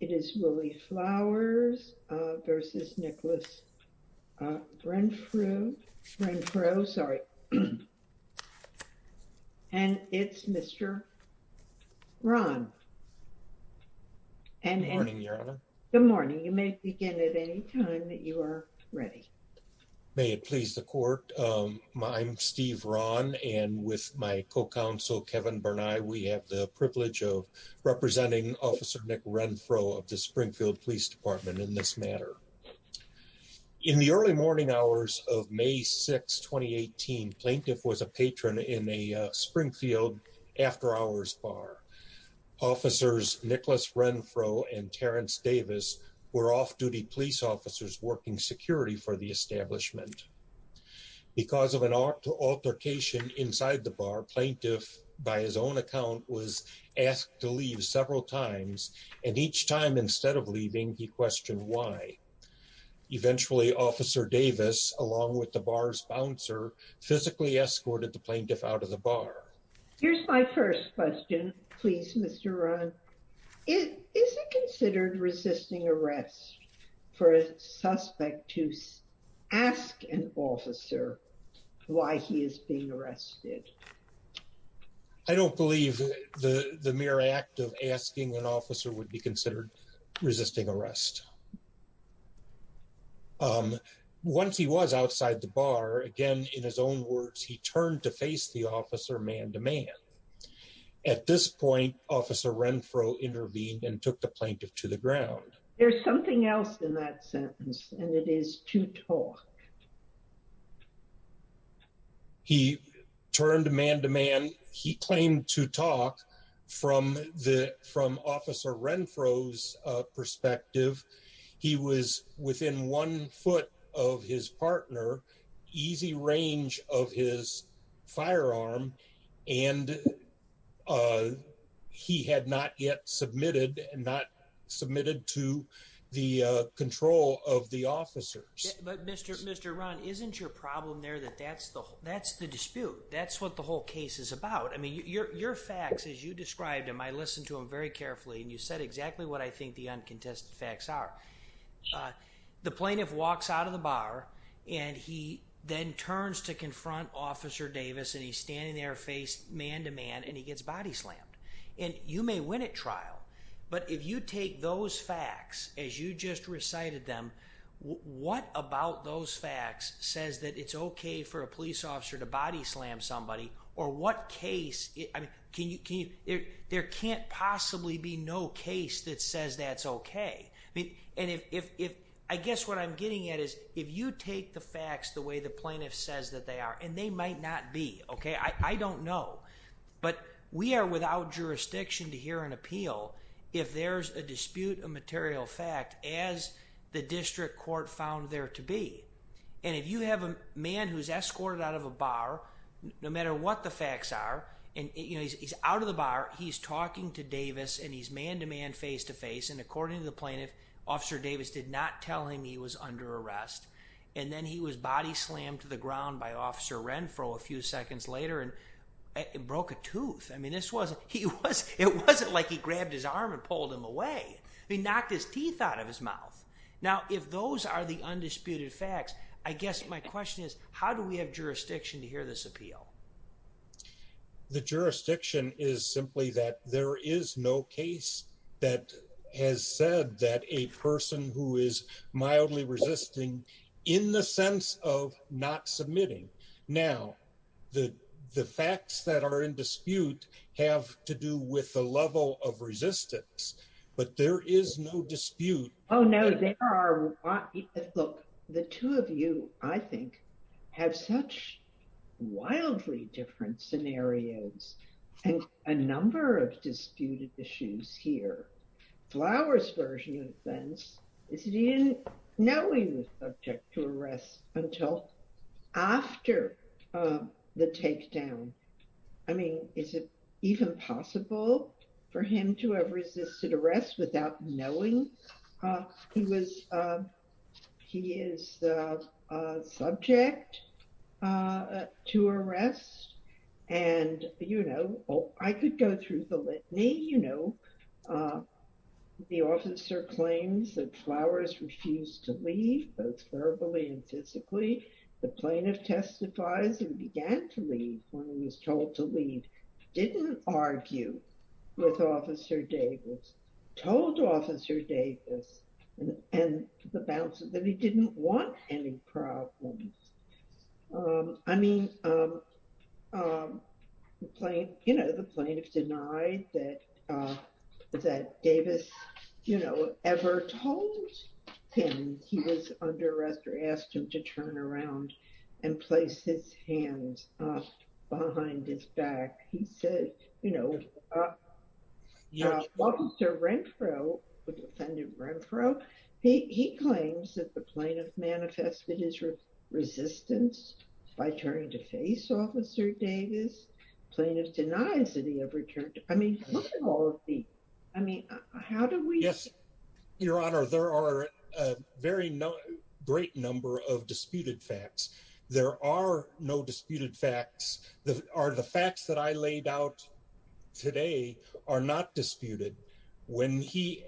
Good morning, Your Honor. Good morning. You may begin at any time that you are ready. May it please the Court, I'm Steve Rahn, and with my co-counsel, Kevin Berni, we have the Springfield Police Department in this matter. In the early morning hours of May 6, 2018, Plaintiff was a patron in a Springfield After Hours bar. Officers Nicholas Renfro and Terrence Davis were off-duty police officers working security for the establishment. Because of an altercation inside the bar, Plaintiff, by his own account, was asked to leave several times, and each time instead of leaving, he questioned why. Eventually, Officer Davis, along with the bar's bouncer, physically escorted the Plaintiff out of the bar. Here's my first question, please, Mr. Rahn. Is it considered resisting arrest for a suspect to ask an officer why he is being arrested? I don't believe the mere act of asking an officer would be considered resisting arrest. Once he was outside the bar, again, in his own words, he turned to face the officer man-to-man. At this point, Officer Renfro intervened and took the Plaintiff to the ground. There's something else in that sentence, and it is to talk. He turned man-to-man. He claimed to talk from Officer Renfro's perspective. He was within one foot of his partner, easy range of his firearm, and he had not yet submitted to the control of officers. Mr. Rahn, isn't your problem there that that's the dispute? That's what the whole case is about. Your facts, as you described them, I listened to them very carefully, and you said exactly what I think the uncontested facts are. The Plaintiff walks out of the bar, and he then turns to confront Officer Davis, and he's standing there face man-to-man, and he gets body-slammed. You may win at trial, but if you take those facts as you just recited them, what about those facts says that it's okay for a police officer to body-slam somebody, or what case? There can't possibly be no case that says that's okay. I guess what I'm getting at is if you take the facts the way the Plaintiff says that they are, and they might not be. I don't know, but we are without jurisdiction to hear an appeal if there's a dispute of material fact, as the District Court found there to be. If you have a man who's escorted out of a bar, no matter what the facts are, and he's out of the bar, he's talking to Davis, and he's man-to-man, face-to-face, and according to the Plaintiff, Officer Davis did not tell him he was under arrest. Then he was body-slammed to the ground by Officer Renfro a few seconds later, and it broke a tooth. It wasn't like he grabbed his arm and pulled him away. He knocked his teeth out of his mouth. Now, if those are the undisputed facts, I guess my question is, how do we have jurisdiction to hear this appeal? The jurisdiction is simply that there is no case that has said that a person who is mildly resisting in the sense of not submitting. Now, the facts that are in dispute have to do with the level of resistance, but there is no dispute. Oh, no, there are. Look, the two of you, I think, have such wildly different scenarios and a number of disputed issues here. Flowers' version of events is he didn't know he was subject to arrest until after the takedown. I mean, is it even possible for him to have resisted arrest without knowing he is subject to arrest? I could go through the litany. The officer claims that Flowers refused to leave, both verbally and physically. The Plaintiff testifies he began to leave when he was told to leave, didn't argue with Officer Davis, told Officer Davis, and the balance is that he didn't want any problems. I mean, the Plaintiff denied that Davis ever told him he was under arrest or asked him to turn around and place his hands behind his back. He said, you know, Officer Renfro, the defendant Renfro, he claims that the Plaintiff manifested his resistance by turning to face Officer Davis. The Plaintiff denies that he ever turned. I mean, look at all of these. I mean, how do we? Yes, Your Honor, there are a very great number of disputed facts. There are no disputed facts. The facts that I laid out today are not disputed. When he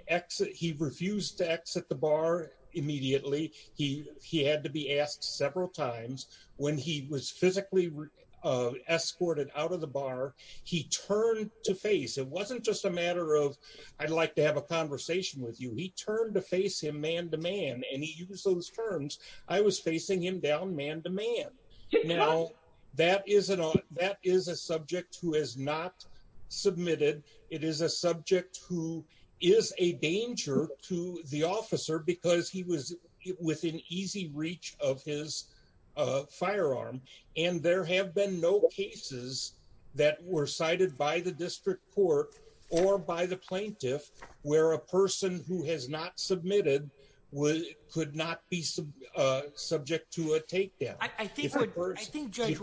refused to exit the bar immediately, he had to be asked several times. When he was physically escorted out of the I'd like to have a conversation with you, he turned to face him man to man, and he used those terms. I was facing him down man to man. Now, that is a subject who has not submitted. It is a subject who is a danger to the officer because he was within easy reach of his firearm, and there is no way that he could be subject to a take down by the Plaintiff, where a person who has not submitted could not be subject to a take down. I think Judge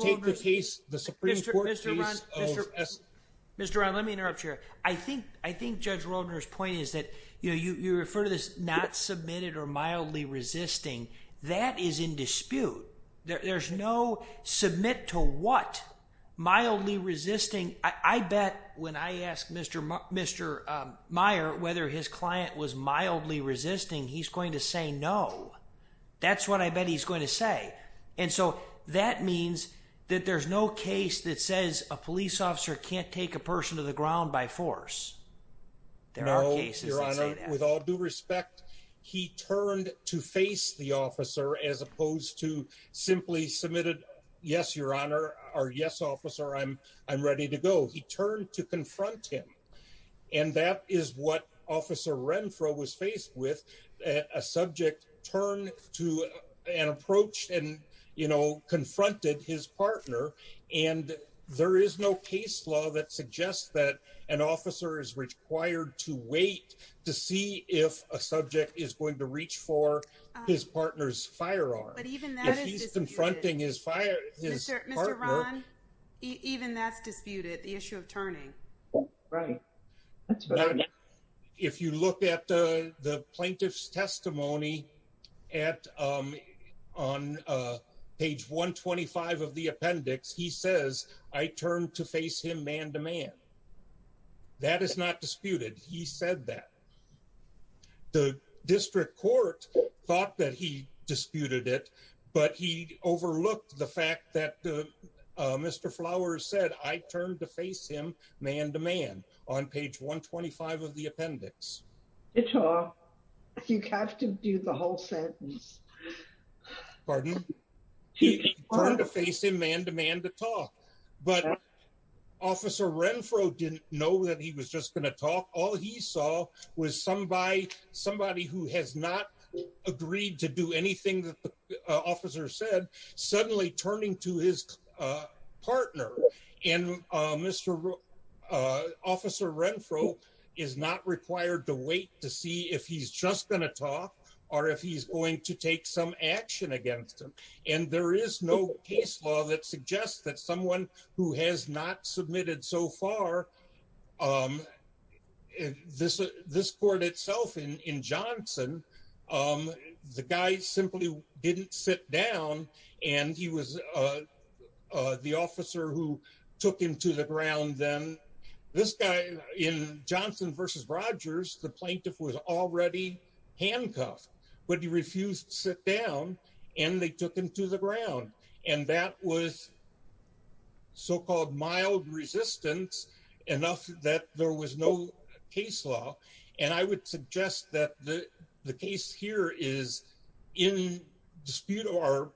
Roldner's point is that you refer to this not submitted or mildly resisting. That is in dispute. There's no submit to what. Mildly resisting. I bet when I asked Mr. Meier whether his client was mildly resisting, he's going to say no. That's what I bet he's going to say, and so that means that there's no case that says a police officer can't take a person to the ground by force. There are cases that say that. No, Your Honor. With all due respect, he turned to face the officer as opposed to simply submitted, yes, Your Honor, or yes, officer, I'm ready to go. He turned to confront him, and that is what Officer Renfro was faced with. A subject turned to an approach and confronted his partner, and there is no case law that suggests that an officer is required to wait to see if a subject is going reach for his partner's firearm. Even that is disputed. Even that's disputed, the issue of turning. Right. If you look at the plaintiff's testimony on page 125 of the appendix, he says I turned to face him man to man. That is not disputed. He said that. The district court thought that he disputed it, but he overlooked the fact that Mr. Flowers said I turned to face him man to man on page 125 of the appendix. You have to do the whole sentence. Pardon? He turned to face him man to man to talk, but Officer Renfro didn't know that he was just going to talk. All he saw was somebody who has not agreed to do anything that the officer said suddenly turning to his partner, and Officer Renfro is not required to wait to see if he's just going to talk or if he's going to take some action against him, and there is no case law that suggests that someone who has not submitted so far, this court itself in Johnson, the guy simply didn't sit down, and he was the officer who took him to the ground then. This guy in Johnson versus Rogers, the plaintiff was already handcuffed, but he refused to sit down, and they took him to the ground, and that was so-called mild resistance enough that there was no case law, and I would suggest that the case here is in dispute or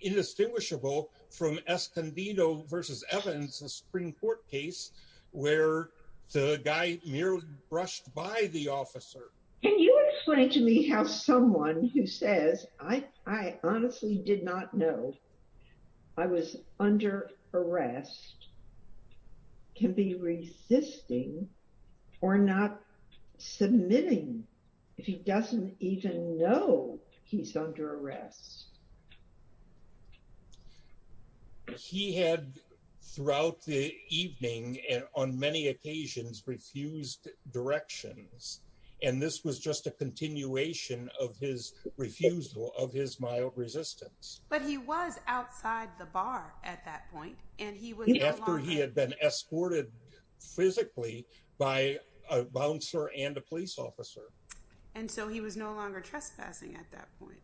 indistinguishable from Escondido versus Evans, a Supreme Court case where the guy merely brushed by the officer. Can you explain to me how someone who says, I honestly did not know I was under arrest, can be resisting or not submitting if he doesn't even know he's under arrest? He had, throughout the evening and on many occasions, refused directions, and this was just a continuation of his refusal, of his mild resistance, but he was outside the bar at that point, and he was after he had been escorted physically by a bouncer and a police officer, and so he was no longer trespassing at that point.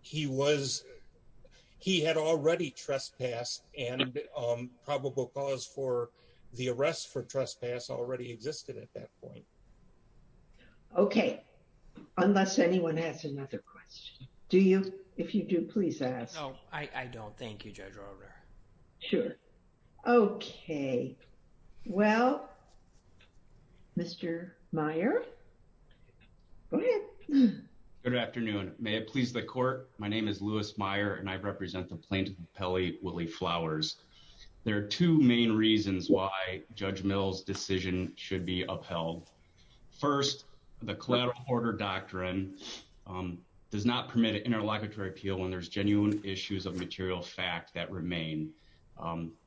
He was, he had already trespassed, and probable cause for the arrest for trespass already existed at that point. Okay, unless anyone has another question. Do you, if you do, please ask. No, I don't. Thank you, Judge Rolder. Sure. Okay, well, Mr. Meyer. Go ahead. Good afternoon. May it please the court, my name is Louis Meyer, and I represent the plaintiff, Pelley Willie Flowers. There are two main reasons why Judge Mill's decision should be upheld. First, the collateral order doctrine does not permit an interlocutory appeal when there's genuine issues of material fact that remain.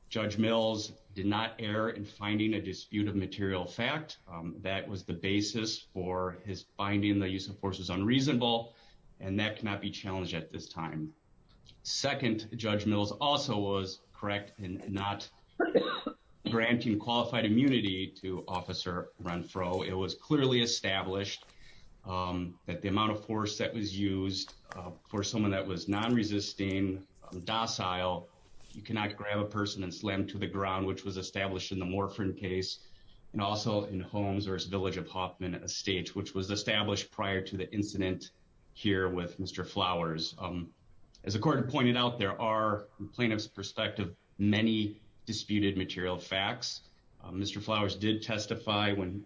Judge Mill's did not err in finding a dispute of material fact. That was the basis for his finding the use of force was unreasonable, and that cannot be challenged at this time. Second, Judge Mill's also was correct in not granting qualified immunity to Officer Renfro. It was clearly established that the amount of force that was used for someone that was non-resisting, docile, you cannot grab a person and slam to the ground, which was established in the Morphin case, and also in Holmes, or his village of Hoffman Estates, which was established prior to the incident here with Mr. Flowers. As the court pointed out, there are, from plaintiff's perspective, many disputed material facts. Mr. Flowers did testify when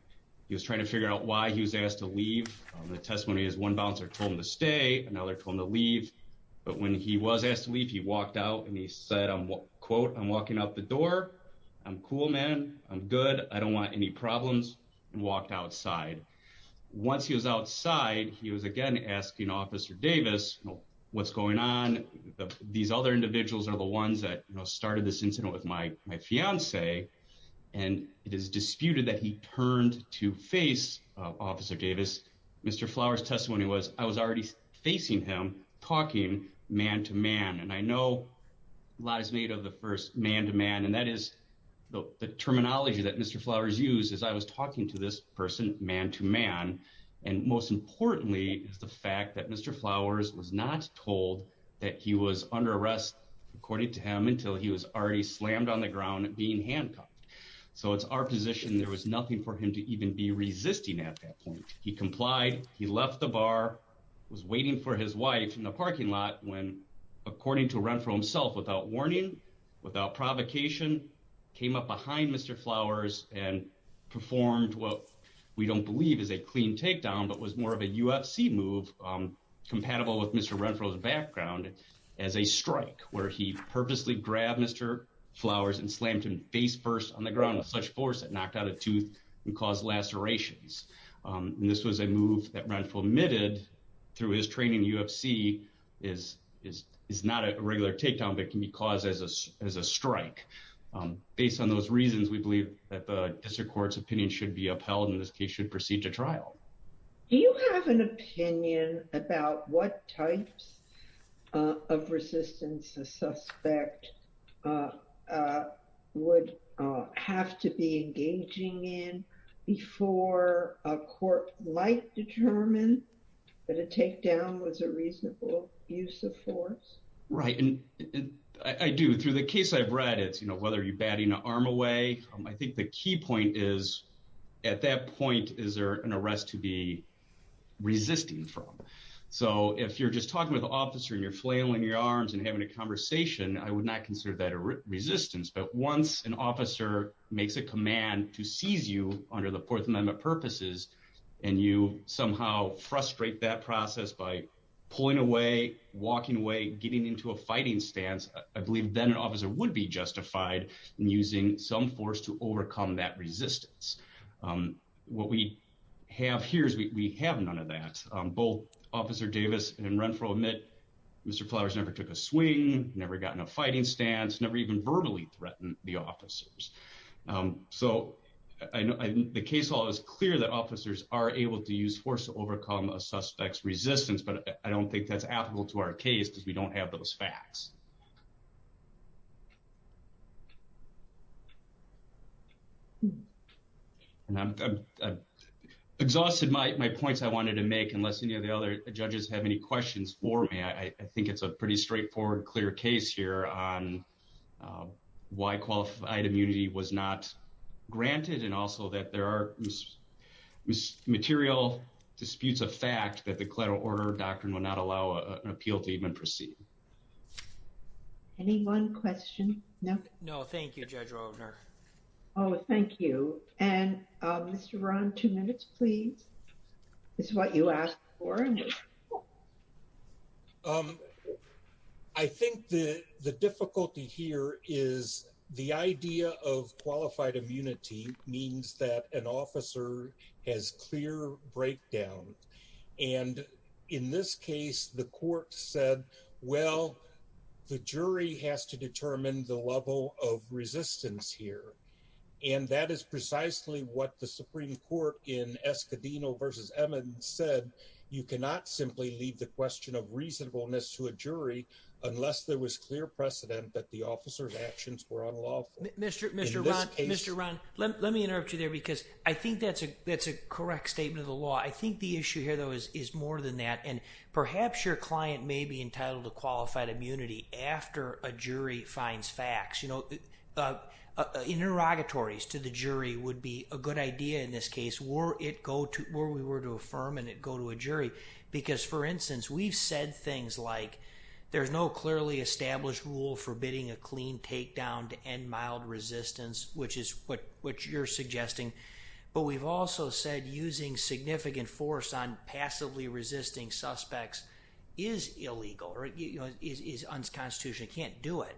he was trying to figure out why he was asked to leave. The testimony is one bouncer told him to stay, another told him to leave, but when he was asked to leave, he walked out and he said, quote, I'm walking out the door. I'm cool, man. I'm good. I don't want any problems, and walked outside. Once he was outside, he was again asking Officer Davis, what's going on? These other individuals are the ones that started this incident with my fiancee, and it is disputed that he turned to face Officer Davis. Mr. Flowers' testimony was, I was already facing him, talking man to man, and I know lies made of the first man to man, and that is the terminology that Mr. Flowers used as I was talking to this person man to man, and most importantly is the fact that Mr. Flowers was not told that he was under arrest, according to him, until he was already slammed on the ground being handcuffed. So it's our position there was nothing for him to even be resisting at that point. He complied, he left the bar, was waiting for his wife in the parking lot when, according to Renfro himself, without warning, without provocation, came up behind Mr. Flowers and performed what we don't believe is a clean takedown, but was more of a UFC move compatible with Mr. Renfro's background as a strike, where he purposely grabbed Mr. Flowers and slammed him face first on the ground with such force that knocked out a tooth and caused lacerations. This was a move that Renfro admitted through his training in UFC is not a regular takedown, but can be caused as a strike. Based on those reasons, we believe that the opinion about what types of resistance a suspect would have to be engaging in before a court might determine that a takedown was a reasonable use of force. Right, and I do, through the case I've read, it's, you know, whether you're batting an arm away. I think the key point is, at that point, is there an arrest to be resisting from? So if you're just talking with an officer and you're flailing your arms and having a conversation, I would not consider that a resistance, but once an officer makes a command to seize you under the Fourth Amendment purposes and you somehow frustrate that process by pulling away, walking away, getting into a fighting stance, I believe then an officer would be justified in using some force to overcome that resistance. What we have here is we have none of that. Both Officer Davis and Renfro admit Mr. Flowers never took a swing, never got in a fighting stance, never even verbally threatened the officers. So I know the case law is clear that officers are able to use force to overcome a suspect's resistance, but I don't think it's a reasonable use of force. And I've exhausted my points I wanted to make, unless any of the other judges have any questions for me. I think it's a pretty straightforward, clear case here on why qualified immunity was not an issue. No, thank you, Judge Roebner. Oh, thank you. And Mr. Rohn, two minutes, please. This is what you asked for. I think the difficulty here is the idea of qualified immunity means that an officer has clear breakdown. And in this case, the court said, well, the jury has to determine the level of resistance here. And that is precisely what the Supreme Court in Escudino v. Emmons said. You cannot simply leave the question of reasonableness to a jury unless there was clear precedent that the officer's actions were unlawful. Mr. Rohn, let me interrupt you there, because I think that's a correct statement of the law. I think the issue here, though, is more than that. And perhaps your client may be entitled to qualified immunity after a jury finds facts. Interrogatories to the jury would be a good idea in this case, were we were to affirm and it go to a jury. Because, for instance, we've said like, there's no clearly established rule forbidding a clean takedown to end mild resistance, which is what you're suggesting. But we've also said using significant force on passively resisting suspects is illegal, is unconstitutional. You can't do it.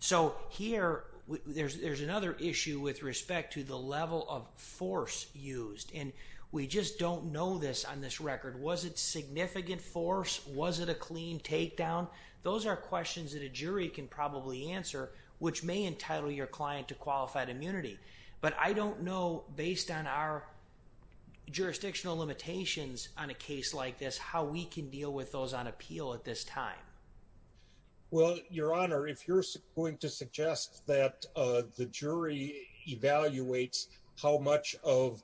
So here, there's another issue with respect to the level of force used. And we just don't know this on this record. Was it significant force? Was it a clean takedown? Those are questions that a jury can probably answer, which may entitle your client to qualified immunity. But I don't know, based on our jurisdictional limitations on a case like this, how we can deal with those on appeal at this time. Well, Your Honor, if you're going to suggest that the jury evaluates how much of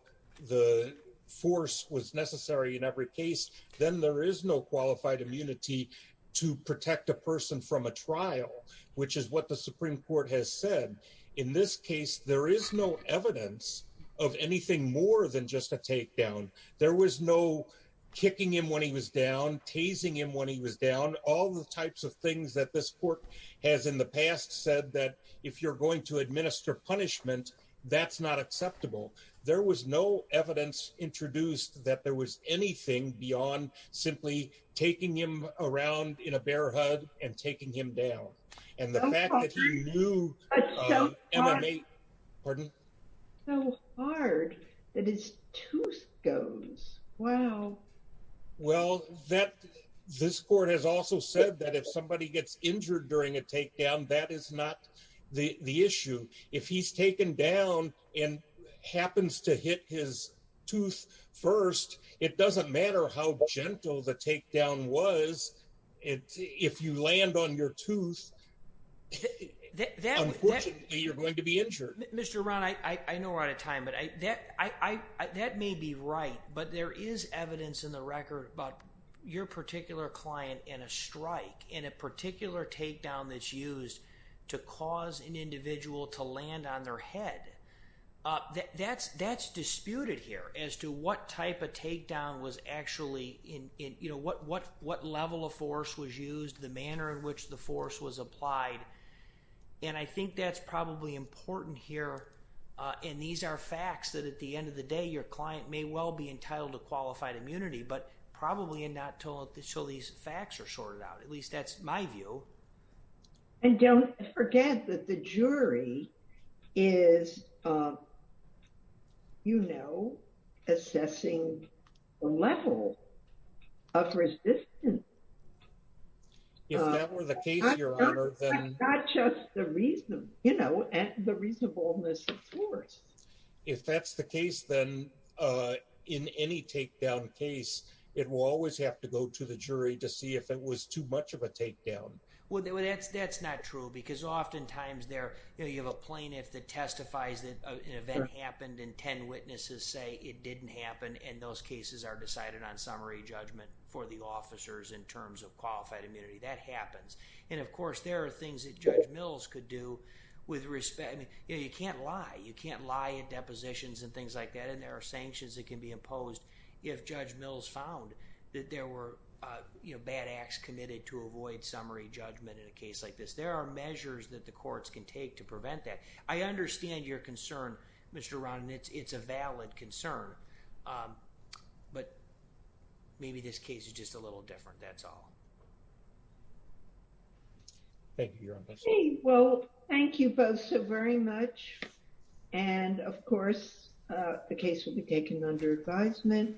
the force was necessary in every case, then there is no qualified immunity to protect a person from a trial, which is what the Supreme Court has said. In this case, there is no evidence of anything more than just a takedown. There was no kicking him when he was down, tasing him when he was down. All the types of things that this court has in the past said that if you're going to administer punishment, that's not acceptable. There was no evidence introduced that there was anything beyond simply taking him around in a bear hug and taking him down. And the fact that you knew... So hard. That is two scones. Wow. Well, this court has also said that if somebody gets injured during a takedown, that is not the issue. If he's taken down and happens to hit his tooth first, it doesn't matter how gentle the takedown was. If you land on your tooth, unfortunately, you're going to be injured. Mr. Ron, I know we're out of time, but that may be right. But there is evidence in the record about your particular client in a strike, in a particular takedown that's used to cause an individual to land on their head. That's disputed here as to what type of takedown was actually... What level of force was used, the manner in which the force was applied. And I think that's probably important here. And these are facts that at the end of the day, your client may well be entitled to qualified my view. And don't forget that the jury is assessing the level of resistance. If that were the case, Your Honor, then... Not just the reason, and the reasonableness of course. If that's the case, then in any takedown case, it will always have to go to the jury to see if it was too much of a takedown. Well, that's not true because oftentimes you have a plaintiff that testifies that an event happened and 10 witnesses say it didn't happen. And those cases are decided on summary judgment for the officers in terms of qualified immunity. That happens. And of course, there are things that Judge Mills could do with respect. You can't lie. You can't lie at depositions and things like that. And there are sanctions that can be imposed if Judge Mills found that there were bad acts committed to avoid summary judgment in a case like this. There are measures that the courts can take to prevent that. I understand your concern, Mr. Ron, and it's a valid concern, but maybe this case is just a little different. That's all. Thank you, Your Honor. Well, thank you both so very much. And of course, the case will be taken under advisement.